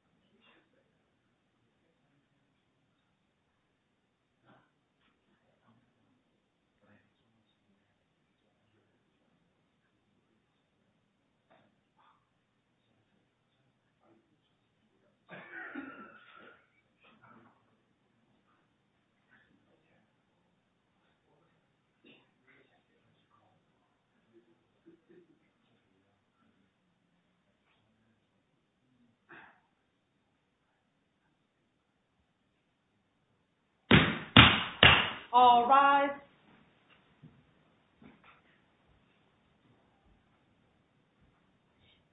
From that, I knew his skills with telekinesis from beginning to end. After a period of chaos, the man finally decided to step out. And people knew that my little brother had achieved a new talent when he went to Uganda.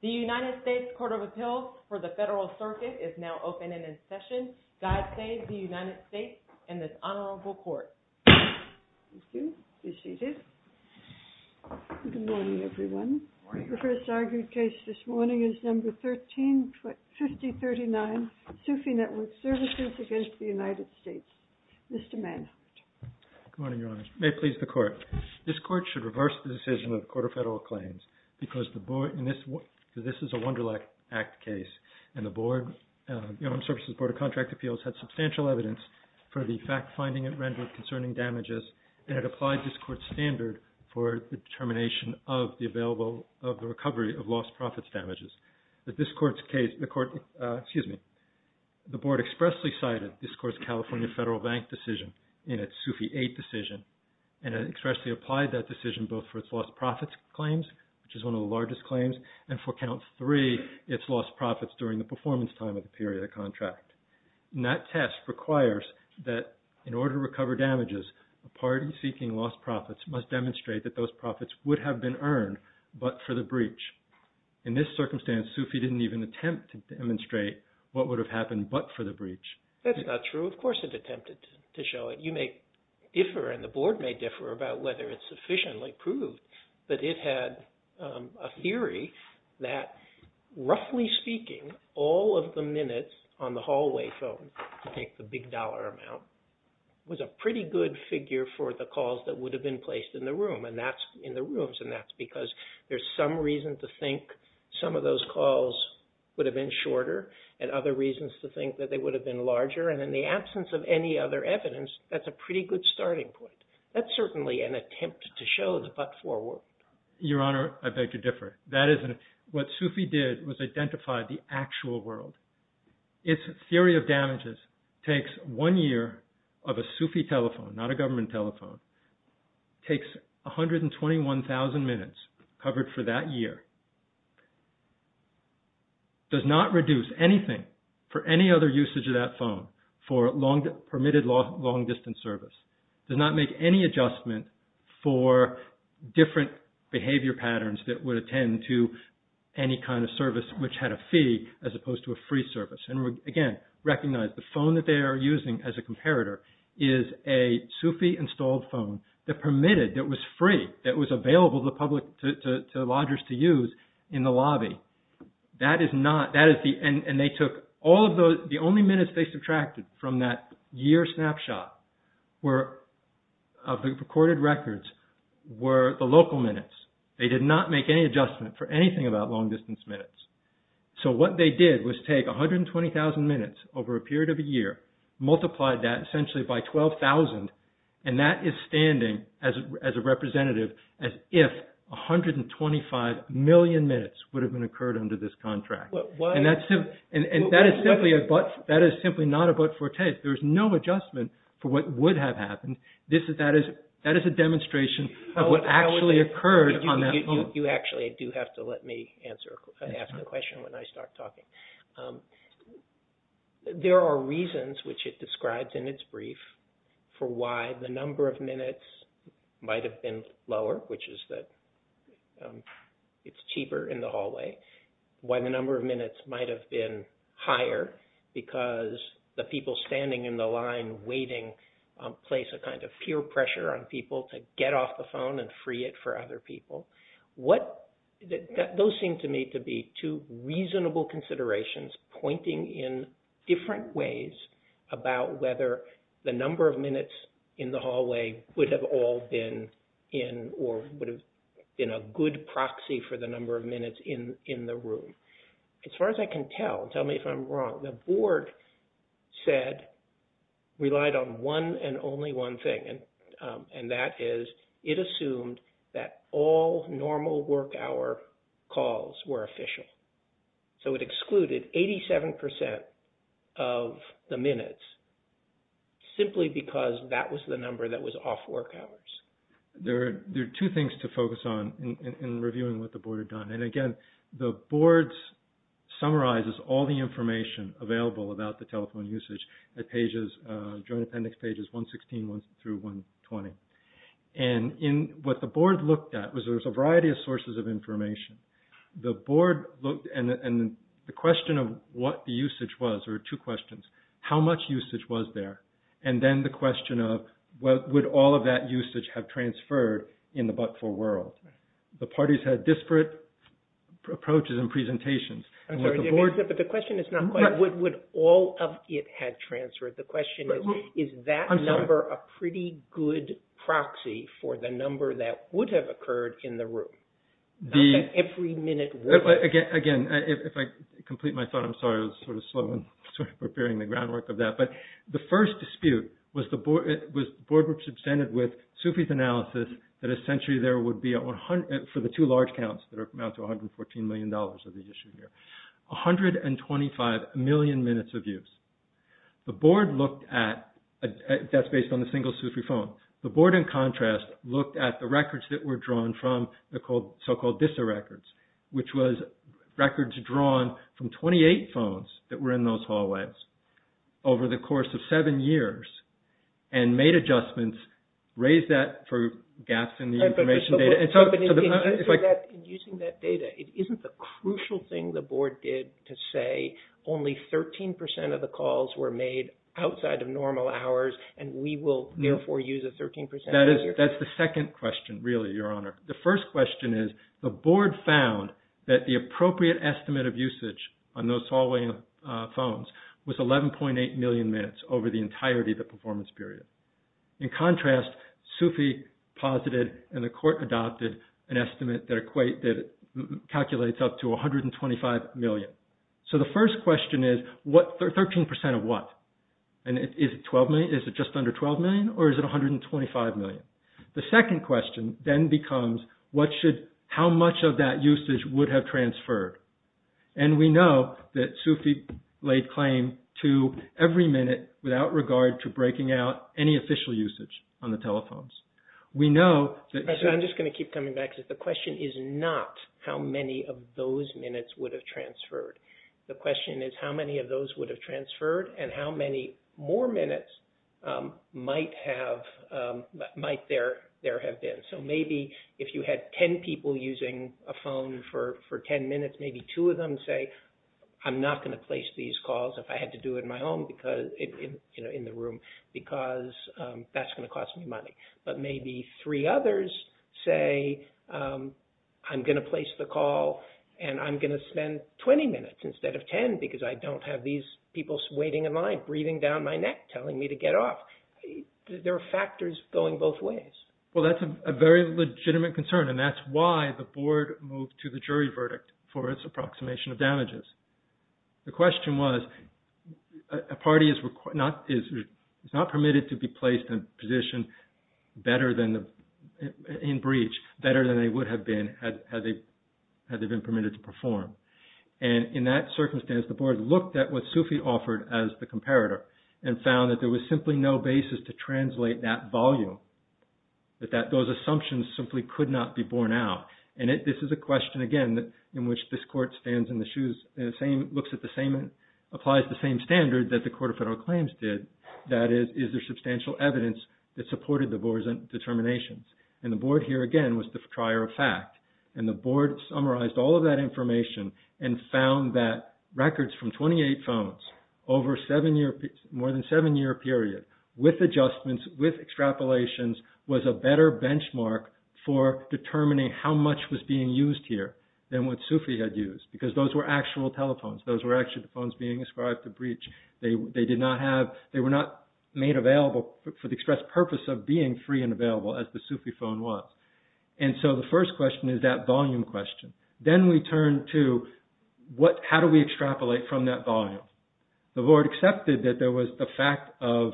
The United States Court of Appeals for the Federal Circuit is now open and in session. God save the United States and this honorable court. Thank you. Be seated. Good morning, everyone. The first argued case this morning is number 13-5039, Sufi Network Services against the United States. Mr. Manhart. Good morning, Your Honor. May it please the court. This court should reverse the decision of the Court of Federal Claims because this is a Wunderlach Act case, and the Board of Human Services, Board of Contract Appeals, had substantial evidence for the fact-finding it rendered concerning damages and had applied this court's standard for the determination of the recovery of lost profits damages. The board expressly cited this court's California Federal Bank decision in its Sufi 8 decision and expressly applied that decision both for its lost profits claims, which is one of the largest claims, and for Count 3, its lost profits during the performance time of the period of the contract. That test requires that in order to recover damages, a party seeking lost profits must demonstrate that those profits would have been earned but for the breach. In this circumstance, Sufi didn't even attempt to demonstrate what would have happened but for the breach. That's not true. Of course it attempted to show it. You may differ and the board may differ about whether it sufficiently proved that it had a theory that, roughly speaking, all of the minutes on the hallway phone, to take the big dollar amount, was a pretty good figure for the calls that would have been placed in the room, and that's because there's some reason to think some of those calls would have been shorter and other reasons to think that they would have been larger, and in the absence of any other evidence, that's a pretty good starting point. That's certainly an attempt to show the but forward. Your Honor, I beg to differ. What Sufi did was identify the actual world. Its theory of damages takes one year of a Sufi telephone, not a government telephone, takes 121,000 minutes covered for that year, does not reduce anything for any other usage of that phone for permitted long-distance service, does not make any adjustment for different behavior patterns that would attend to any kind of service which had a fee as opposed to a free service. Again, recognize the phone that they are using as a comparator is a Sufi-installed phone that permitted, that was free, that was available to lodgers to use in the lobby. The only minutes they subtracted from that year snapshot of the recorded records were the local minutes. They did not make any adjustment for anything about long-distance minutes. So what they did was take 120,000 minutes over a period of a year, multiplied that essentially by 12,000, and that is standing as a representative as if 125 million minutes would have been occurred under this contract. And that is simply not a but-for-take. There is no adjustment for what would have happened. That is a demonstration of what actually occurred on that phone. You actually do have to let me ask the question when I start talking. There are reasons which it describes in its brief for why the number of minutes might have been lower, which is that it is cheaper in the hallway, why the number of minutes might have been higher because the people standing in the line waiting place a kind of peer pressure on people to get off the phone and free it for other people. Those seem to me to be two reasonable considerations pointing in different ways about whether the number of minutes in the hallway would have all been in or would have been a good proxy for the number of minutes in the room. As far as I can tell, tell me if I'm wrong, the board relied on one and only one thing, and that is it assumed that all normal work hour calls were official. So it excluded 87% of the minutes simply because that was the number that was off work hours. There are two things to focus on in reviewing what the board had done. And again, the board summarizes all the information available about the telephone usage at pages, joint appendix pages 116 through 120. And what the board looked at was there was a variety of sources of information. The board looked and the question of what the usage was, there were two questions. How much usage was there? And then the question of would all of that usage have transferred in the but-for world? The parties had disparate approaches and presentations. I'm sorry, but the question is not what would all of it had transferred. The question is, is that number a pretty good proxy for the number that would have occurred in the room? Not that every minute would have. Again, if I complete my thought, I'm sorry, I was sort of slow in preparing the groundwork of that. But the first dispute was the board was presented with Sufi's analysis that essentially there would be, for the two large counts that amount to $114 million of the issue here, 125 million minutes of use. The board looked at, that's based on the single Sufi phone. The board, in contrast, looked at the records that were drawn from the so-called DISA records, which was records drawn from 28 phones that were in those hallways over the course of seven years and made adjustments, raised that for gaps in the information data. But using that data, isn't the crucial thing the board did to say only 13 percent of the calls were made outside of normal hours and we will therefore use a 13 percent? That's the second question, really, Your Honor. The first question is the board found that the appropriate estimate of usage on those following phones was 11.8 million minutes over the entirety of the performance period. In contrast, Sufi posited and the court adopted an estimate that calculates up to 125 million. So the first question is 13 percent of what? Is it just under 12 million or is it 125 million? The second question then becomes how much of that usage would have transferred? And we know that Sufi laid claim to every minute without regard to breaking out any official usage on the telephones. We know that- I'm just going to keep coming back to it. The question is not how many of those minutes would have transferred. The question is how many of those would have transferred and how many more minutes might there have been. So maybe if you had 10 people using a phone for 10 minutes, maybe two of them say, I'm not going to place these calls if I had to do it in my home, in the room, because that's going to cost me money. But maybe three others say, I'm going to place the call and I'm going to spend 20 minutes instead of 10 because I don't have these people waiting in line, breathing down my neck, telling me to get off. There are factors going both ways. Well, that's a very legitimate concern and that's why the board moved to the jury verdict for its approximation of damages. The question was a party is not permitted to be placed in a position in breach better than they would have been had they been permitted to perform. And in that circumstance, the board looked at what Sufi offered as the comparator and found that there was simply no basis to translate that volume, that those assumptions simply could not be borne out. And this is a question, again, in which this Court stands in the shoes, looks at the same and applies the same standard that the Court of Federal Claims did, that is, is there substantial evidence that supported the board's determinations? And the board here, again, was the trier of fact. And the board summarized all of that information and found that records from 28 phones over more than a seven-year period with adjustments, with extrapolations was a better benchmark for determining how much was being used here than what Sufi had used because those were actual telephones. Those were actually the phones being ascribed to breach. They were not made available for the express purpose of being free and available as the Sufi phone was. And so the first question is that volume question. Then we turn to how do we extrapolate from that volume? The board accepted that there was the fact of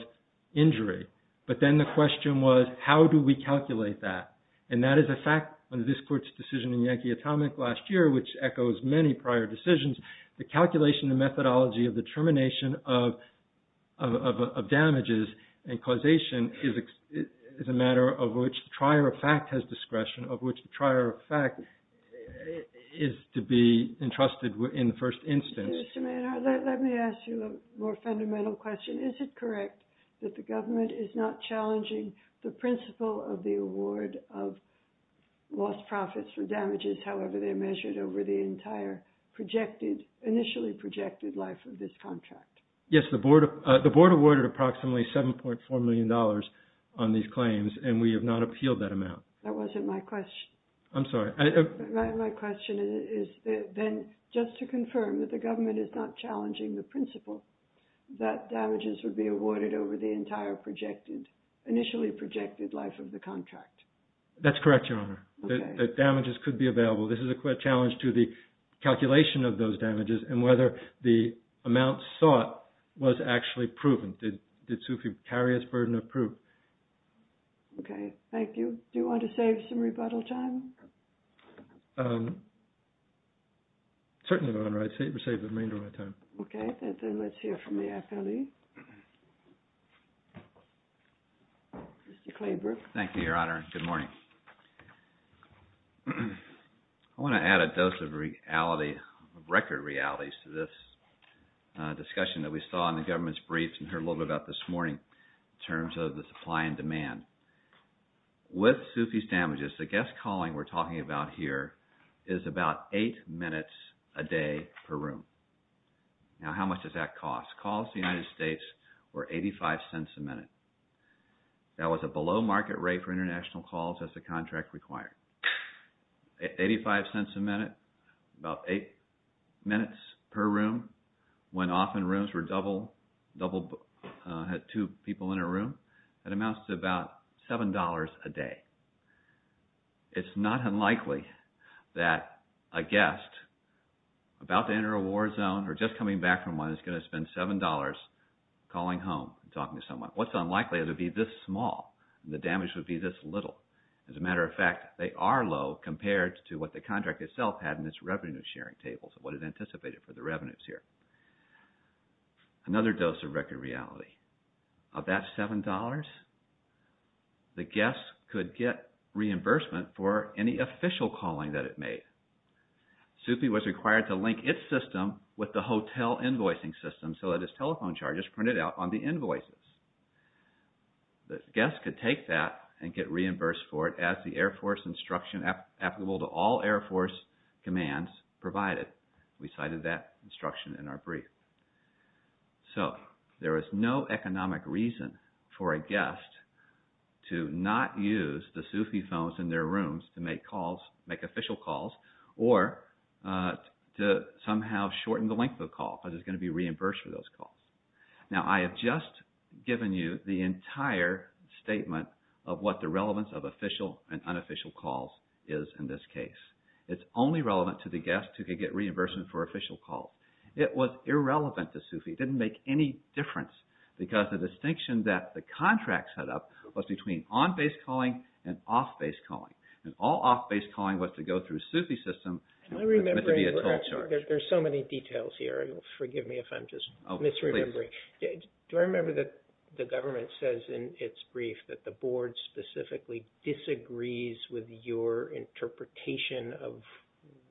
injury, but then the question was how do we calculate that? And that is a fact of this Court's decision in Yankee Atomic last year, which echoes many prior decisions. The calculation and methodology of the termination of damages and causation is a matter of which the trier of fact has discretion, of which the trier of fact is to be entrusted in the first instance. Mr. Maynard, let me ask you a more fundamental question. Is it correct that the government is not challenging the principle of the award of lost profits for damages, however they're measured over the entire initially projected life of this contract? Yes, the board awarded approximately $7.4 million on these claims and we have not appealed that amount. That wasn't my question. I'm sorry. My question is then just to confirm that the government is not challenging the principle that damages would be awarded over the entire initially projected life of the contract. That's correct, Your Honor. That damages could be available. This is a challenge to the calculation of those damages and whether the amount sought was actually proven. Did Sufi carry his burden of proof? Okay. Thank you. Do you want to save some rebuttal time? Certainly, Your Honor. I'd save the remainder of my time. Okay. Then let's hear from the FLE. Mr. Claybrook. Thank you, Your Honor. Good morning. I want to add a dose of record realities to this discussion that we saw in the government's briefs and heard a little bit about this morning in terms of the supply and demand. With Sufi's damages, the guest calling we're talking about here is about eight minutes a day per room. Now, how much does that cost? That was a below market rate for international calls as the contract required. Eighty-five cents a minute, about eight minutes per room, when often rooms were double, had two people in a room. That amounts to about $7 a day. It's not unlikely that a guest about to enter a war zone or just coming back from one is going to spend $7 calling home and talking to someone. What's unlikely is it would be this small. The damage would be this little. As a matter of fact, they are low compared to what the contract itself had in its revenue sharing tables and what it anticipated for the revenues here. Another dose of record reality. Of that $7, the guest could get reimbursement for any official calling that it made. Sufi was required to link its system with the hotel invoicing system so that its telephone charges printed out on the invoices. The guest could take that and get reimbursed for it as the Air Force instruction applicable to all Air Force commands provided. We cited that instruction in our brief. So there is no economic reason for a guest to not use the Sufi phones in their rooms to make official calls or to somehow shorten the length of the call because it's going to be reimbursed for those calls. Now, I have just given you the entire statement of what the relevance of official and unofficial calls is in this case. It's only relevant to the guest who could get reimbursement for official calls. It was irrelevant to Sufi. It didn't make any difference because the distinction that the contract set up was between on-base calling and off-base calling. And all off-base calling was to go through Sufi system. There's so many details here. Forgive me if I'm just misremembering. Do I remember that the government says in its brief that the board specifically disagrees with your interpretation of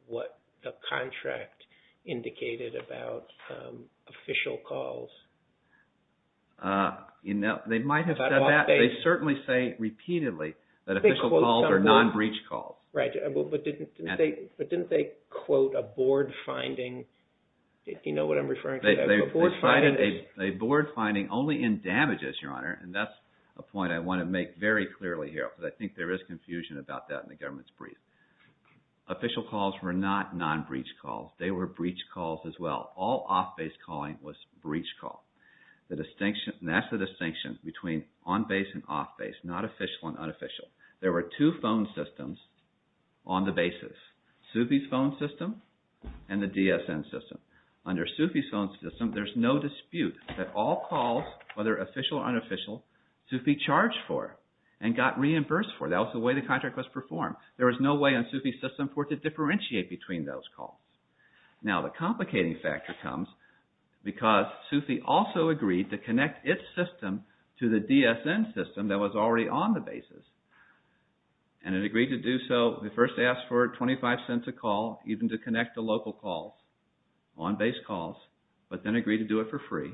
what the contract indicated about official calls? They might have said that. They certainly say repeatedly that official calls are non-breach calls. Right. But didn't they quote a board finding? Do you know what I'm referring to? A board finding only in damages, Your Honor, and that's a point I want to make very clearly here because I think there is confusion about that in the government's brief. Official calls were not non-breach calls. They were breach calls as well. All off-base calling was breach call. That's the distinction between on-base and off-base, not official and unofficial. There were two phone systems on the basis, Sufi's phone system and the DSN system. Under Sufi's phone system, there's no dispute that all calls, whether official or unofficial, Sufi charged for and got reimbursed for. That was the way the contract was performed. There was no way on Sufi's system for it to differentiate between those calls. Now, the complicating factor comes because Sufi also agreed to connect its system to the DSN system that was already on the basis. And it agreed to do so. It first asked for 25 cents a call, even to connect to local calls, on-base calls, but then agreed to do it for free.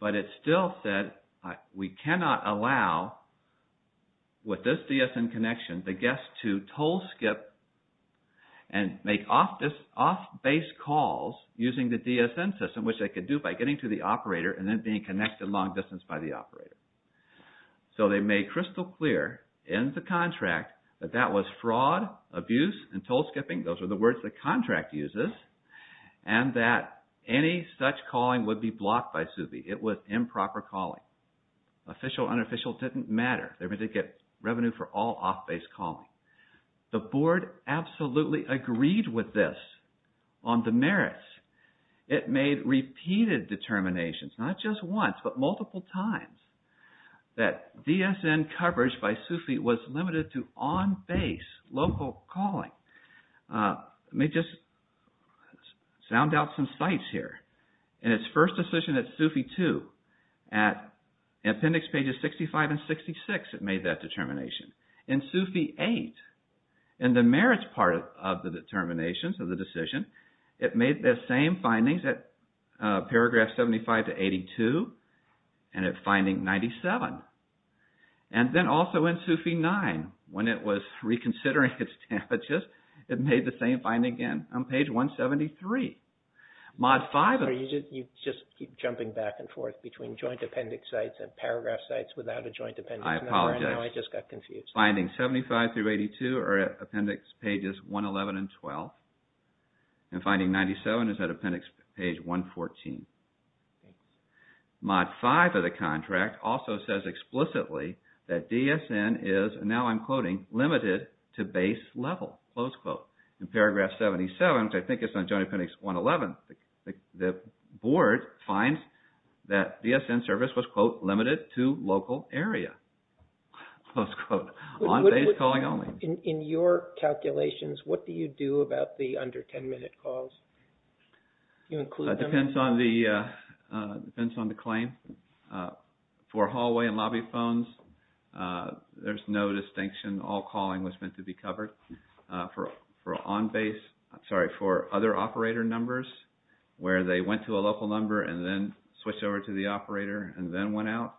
But it still said we cannot allow, with this DSN connection, the guest to toll-skip and make off-base calls using the DSN system, which they could do by getting to the operator and then being connected long distance by the operator. So they made crystal clear in the contract that that was fraud, abuse, and toll-skipping. Those were the words the contract uses. And that any such calling would be blocked by Sufi. It was improper calling. Official, unofficial didn't matter. They were going to get revenue for all off-base calling. The board absolutely agreed with this on the merits. It made repeated determinations, not just once, but multiple times, that DSN coverage by Sufi was limited to on-base, local calling. Let me just sound out some sites here. In its first decision at Sufi 2, at appendix pages 65 and 66, it made that determination. In Sufi 8, in the merits part of the determinations of the decision, it made the same findings at paragraph 75 to 82 and at finding 97. And then also in Sufi 9, when it was reconsidering its damages, it made the same finding again on page 173. Sorry, you just keep jumping back and forth between joint appendix sites and paragraph sites without a joint appendix number, and now I just got confused. I apologize. Findings 75 through 82 are at appendix pages 111 and 12. And finding 97 is at appendix page 114. Mod 5 of the contract also says explicitly that DSN is, and now I'm quoting, limited to base level, close quote. In paragraph 77, which I think is on joint appendix 111, the board finds that DSN service was, quote, limited to local area, close quote, on-base calling only. In your calculations, what do you do about the under 10-minute calls? Do you include them? It depends on the claim. For hallway and lobby phones, there's no distinction. All calling was meant to be covered. For on-base, sorry, for other operator numbers where they went to a local number and then switched over to the operator and then went out,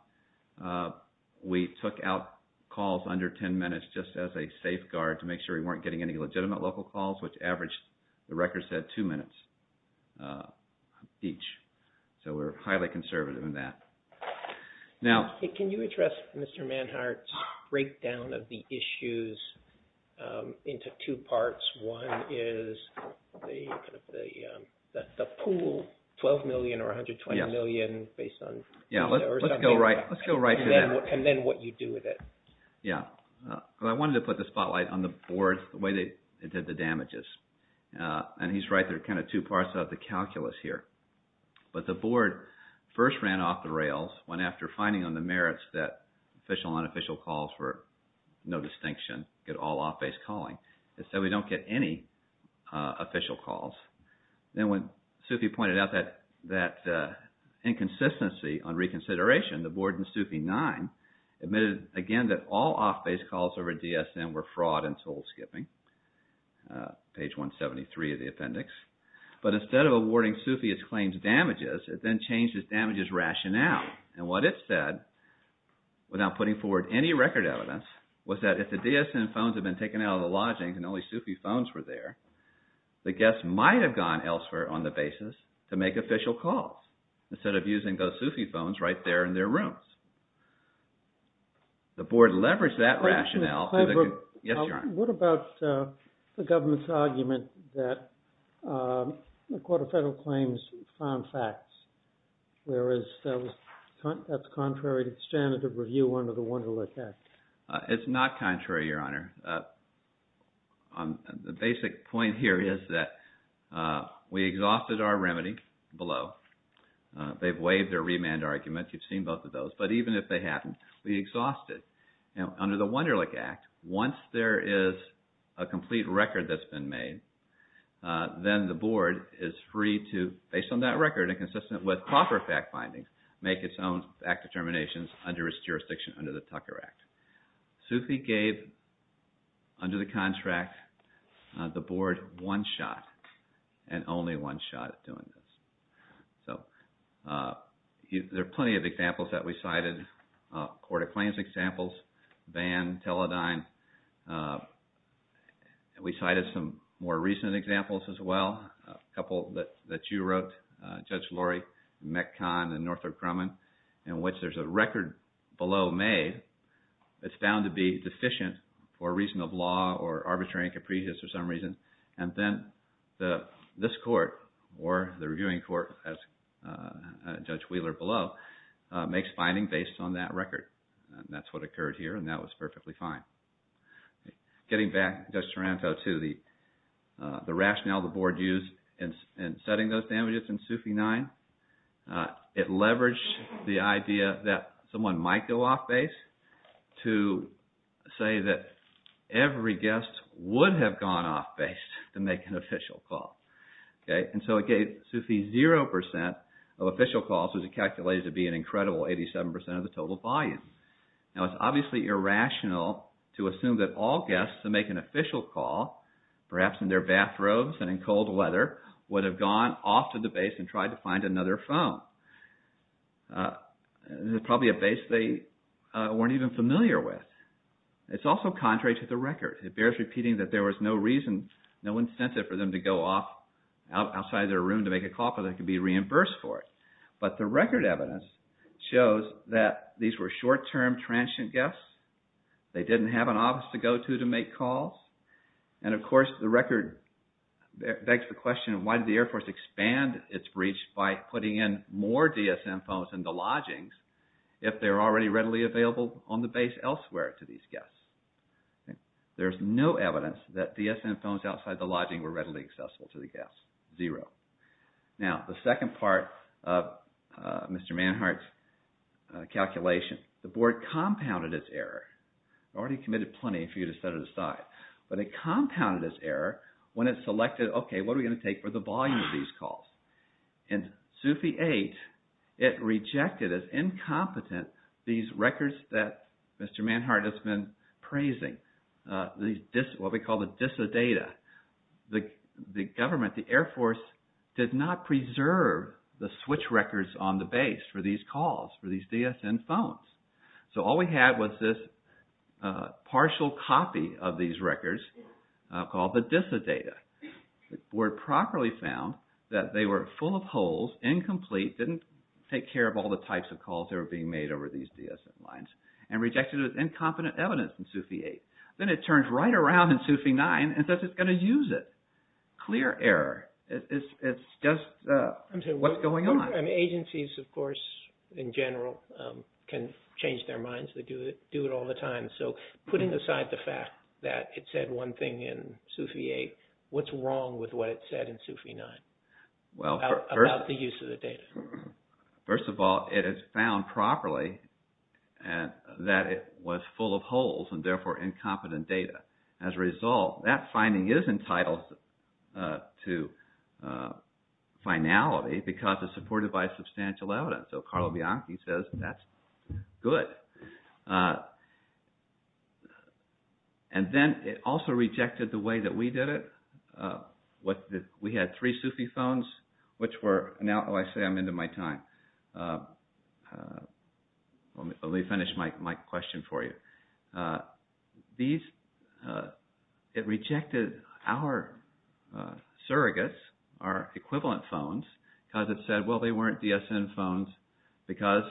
we took out calls under 10 minutes just as a safeguard to make sure we weren't getting any legitimate local calls, which averaged, the record said, two minutes each. So we're highly conservative in that. Now. Can you address Mr. Manhart's breakdown of the issues into two parts? One is the pool, 12 million or 120 million based on. Yeah, let's go right to that. And then what you do with it. Yeah. I wanted to put the spotlight on the board, the way they did the damages. And he's right, there are kind of two parts of the calculus here. But the board first ran off the rails when after finding on the merits that official and unofficial calls were no distinction, get all off-base calling. They said we don't get any official calls. Then when Sufi pointed out that inconsistency on reconsideration, the board in Sufi 9 admitted again that all off-base calls over DSM were fraud and soul skipping. Page 173 of the appendix. But instead of awarding Sufi his claims damages, it then changed his damages rationale. And what it said, without putting forward any record evidence, was that if the DSM phones had been taken out of the lodging and only Sufi phones were there, the guests might have gone elsewhere on the basis to make official calls instead of using those Sufi phones right there in their rooms. The board leveraged that rationale. Yes, Your Honor. What about the government's argument that the Court of Federal Claims found facts, whereas that's contrary to the standard of review under the Wunderlich Act? It's not contrary, Your Honor. The basic point here is that we exhausted our remedy below. They've waived their remand argument. You've seen both of those. But even if they hadn't, we exhausted. Under the Wunderlich Act, once there is a complete record that's been made, then the board is free to, based on that record, and consistent with proper fact findings, make its own fact determinations under its jurisdiction under the Tucker Act. Sufi gave, under the contract, the board one shot, and only one shot at doing this. There are plenty of examples that we cited. Court of Claims examples, Bann, Teledyne. We cited some more recent examples as well. A couple that you wrote, Judge Lori, Mekhan, and Northrop Grumman, in which there's a record below made that's found to be deficient for a reason of law or arbitrary and capricious for some reason. And then this court, or the reviewing court, as Judge Wheeler below, makes finding based on that record. That's what occurred here, and that was perfectly fine. Getting back, Judge Taranto, to the rationale the board used in setting those damages in Sufi 9, it leveraged the idea that someone might go off base to say that every guest would have gone off base to make an official call. And so it gave Sufi 0% of official calls, which is calculated to be an incredible 87% of the total volume. Now, it's obviously irrational to assume that all guests to make an official call, perhaps in their bathrobes and in cold weather, would have gone off to the base and tried to find another phone. It was probably a base they weren't even familiar with. It's also contrary to the record. It bears repeating that there was no incentive for them to go off outside their room to make a call, because they could be reimbursed for it. But the record evidence shows that these were short-term transient guests. They didn't have an office to go to to make calls. And, of course, the record begs the question, why did the Air Force expand its breach by putting in more DSM phones in the lodgings if they were already readily available on the base elsewhere to these guests? There's no evidence that DSM phones outside the lodging were readily accessible to the guests. Zero. Now, the second part of Mr. Manhart's calculation. The Board compounded its error. It already committed plenty for you to set it aside. But it compounded its error when it selected, okay, what are we going to take for the volume of these calls? In Sufi 8, it rejected as incompetent these records that Mr. Manhart has been praising, what we call the DISA data. The government, the Air Force, did not preserve the switch records on the base for these calls, for these DSM phones. So all we had was this partial copy of these records called the DISA data. The Board properly found that they were full of holes, incomplete, didn't take care of all the types of calls that were being made over these DSM lines and rejected it as incompetent evidence in Sufi 8. Then it turns right around in Sufi 9 and says it's going to use it. Clear error. It's just what's going on. Agencies, of course, in general, can change their minds. They do it all the time. So putting aside the fact that it said one thing in Sufi 8, what's wrong with what it said in Sufi 9 about the use of the data? First of all, it has found properly that it was full of holes and therefore incompetent data. As a result, that finding is entitled to finality because it's supported by substantial evidence. So Carlo Bianchi says that's good. And then it also rejected the way that we did it. We had three Sufi phones, which were... Oh, I say I'm into my time. Let me finish my question for you. It rejected our surrogates, our equivalent phones, because it said, well, they weren't DSM phones because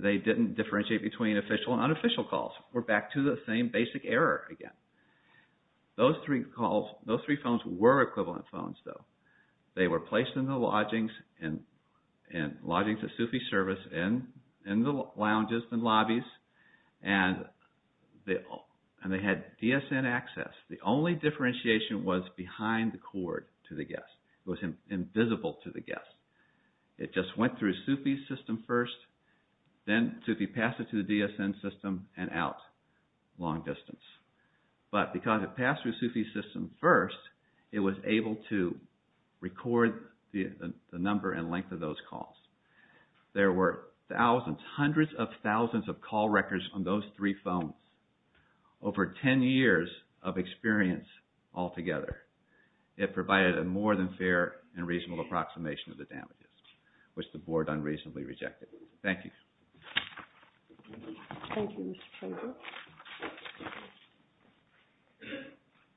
they didn't differentiate between official and unofficial calls. We're back to the same basic error again. Those three phones were equivalent phones, though. They were placed in the lodgings at Sufi service, in the lounges and lobbies, and they had DSN access. The only differentiation was behind the cord to the guest. It was invisible to the guest. It just went through Sufi's system first, then Sufi passed it to the DSN system and out long distance. But because it passed through Sufi's system first, it was able to record the number and length of those calls. There were thousands, hundreds of thousands of call records on those three phones, over 10 years of experience altogether. It provided a more than fair and reasonable approximation of the damages, which the board unreasonably rejected. Thank you. Thank you, Mr. Tremblay.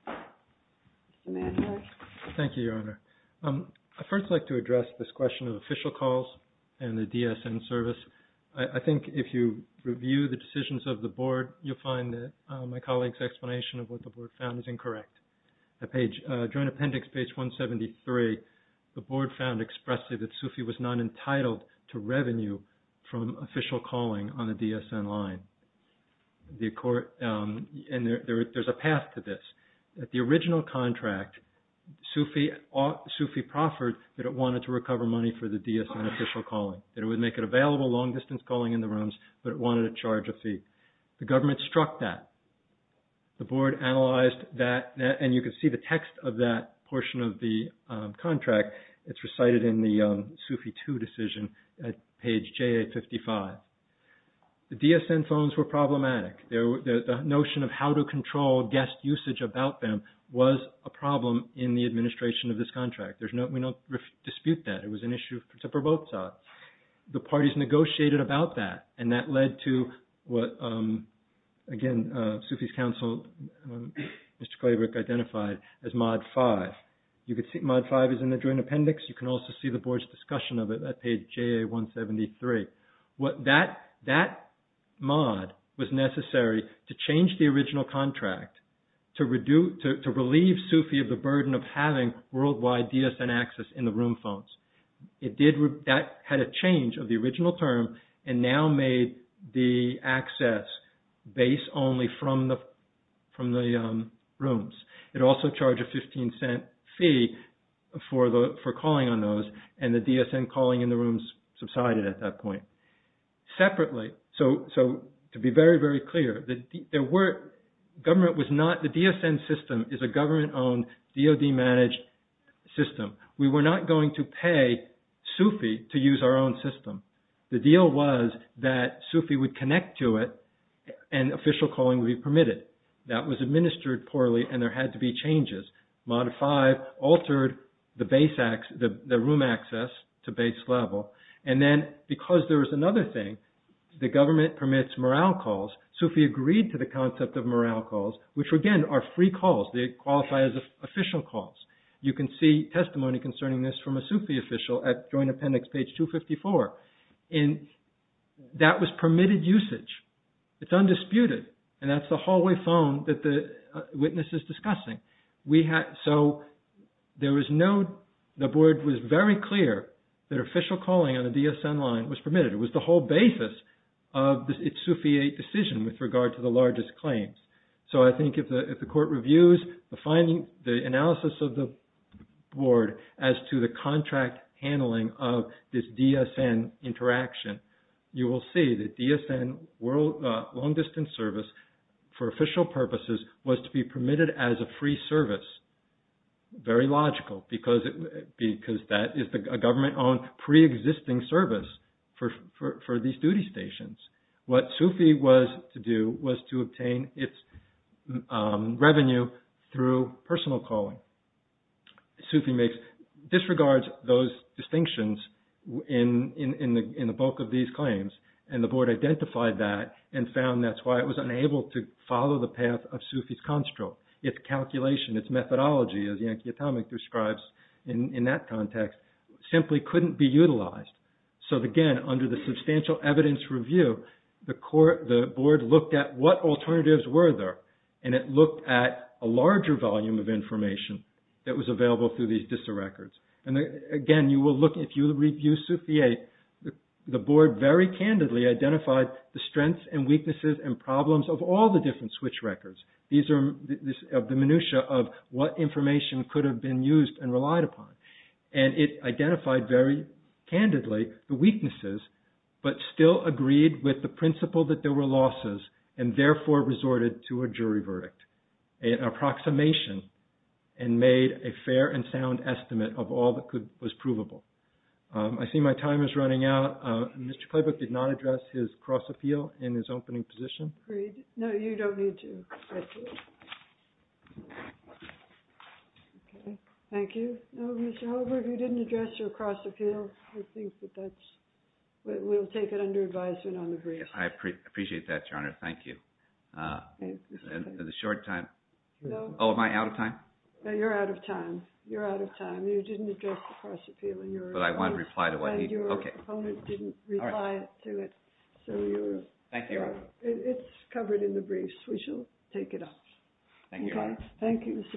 Mr. Manhoff. Thank you, Your Honor. I'd first like to address this question of official calls and the DSN service. I think if you review the decisions of the board, you'll find that my colleague's explanation of what the board found is incorrect. During appendix page 173, the board found expressly that Sufi was not entitled to revenue from official calling on the DSN line. And there's a path to this. At the original contract, Sufi proffered that it wanted to recover money for the DSN official calling, that it would make it available long distance calling in the rooms, but it wanted to charge a fee. The government struck that. The board analyzed that, and you can see the text of that portion of the contract. It's recited in the Sufi II decision at page JA55. The DSN phones were problematic. The notion of how to control guest usage about them was a problem in the administration of this contract. We don't dispute that. It was an issue for both sides. The parties negotiated about that, and that led to what, again, Sufi's counsel, Mr. Claybrook, identified as mod five. You can see mod five is in the joint appendix. You can also see the board's discussion of it at page JA173. That mod was necessary to change the original contract to relieve Sufi of the burden of having worldwide DSN access in the room phones. That had a change of the original term and now made the access base only from the rooms. It also charged a $0.15 fee for calling on those, and the DSN calling in the rooms subsided at that point. Separately, so to be very, very clear, the DSN system is a government-owned DOD-managed system. We were not going to pay Sufi to use our own system. The deal was that Sufi would connect to it, and official calling would be permitted. That was administered poorly, and there had to be changes. Mod five altered the room access to base level, and then because there was another thing, the government permits morale calls. Sufi agreed to the concept of morale calls, which, again, are free calls. They qualify as official calls. You can see testimony concerning this from a Sufi official at Joint Appendix page 254. That was permitted usage. It's undisputed, and that's the hallway phone that the witness is discussing. The board was very clear that official calling on a DSN line was permitted. It was the whole basis of its Sufi-8 decision with regard to the largest claims. I think if the court reviews the analysis of the board as to the contract handling of this DSN interaction, you will see that DSN long-distance service for official purposes was to be permitted as a free service. Very logical because that is a government-owned preexisting service for these duty stations. What Sufi was to do was to obtain its revenue through personal calling. Sufi disregards those distinctions in the bulk of these claims, and the board identified that and found that's why it was unable to follow the path of Sufi's construct. Its calculation, its methodology, as Yankee Atomic describes in that context, simply couldn't be utilized. Again, under the substantial evidence review, the board looked at what alternatives were there, and it looked at a larger volume of information that was available through these DISA records. Again, if you review Sufi-8, the board very candidly identified the strengths and weaknesses and problems of all the different switch records of the minutia of what information could have been used and relied upon. And it identified very candidly the weaknesses, but still agreed with the principle that there were losses and therefore resorted to a jury verdict, an approximation, and made a fair and sound estimate of all that was provable. I see my time is running out. Mr. Klobuchar did not address his cross-appeal in his opening position. No, you don't need to. Thank you. However, if you didn't address your cross-appeal, I think that we'll take it under advisement on the briefs. I appreciate that, Your Honor. Thank you. In the short time. Oh, am I out of time? No, you're out of time. You're out of time. You didn't address the cross-appeal. But I want to reply to what he said. Your opponent didn't reply to it. Thank you, Your Honor. We shall take it up. Thank you, Your Honor. Thank you, Mr. Klobuchar.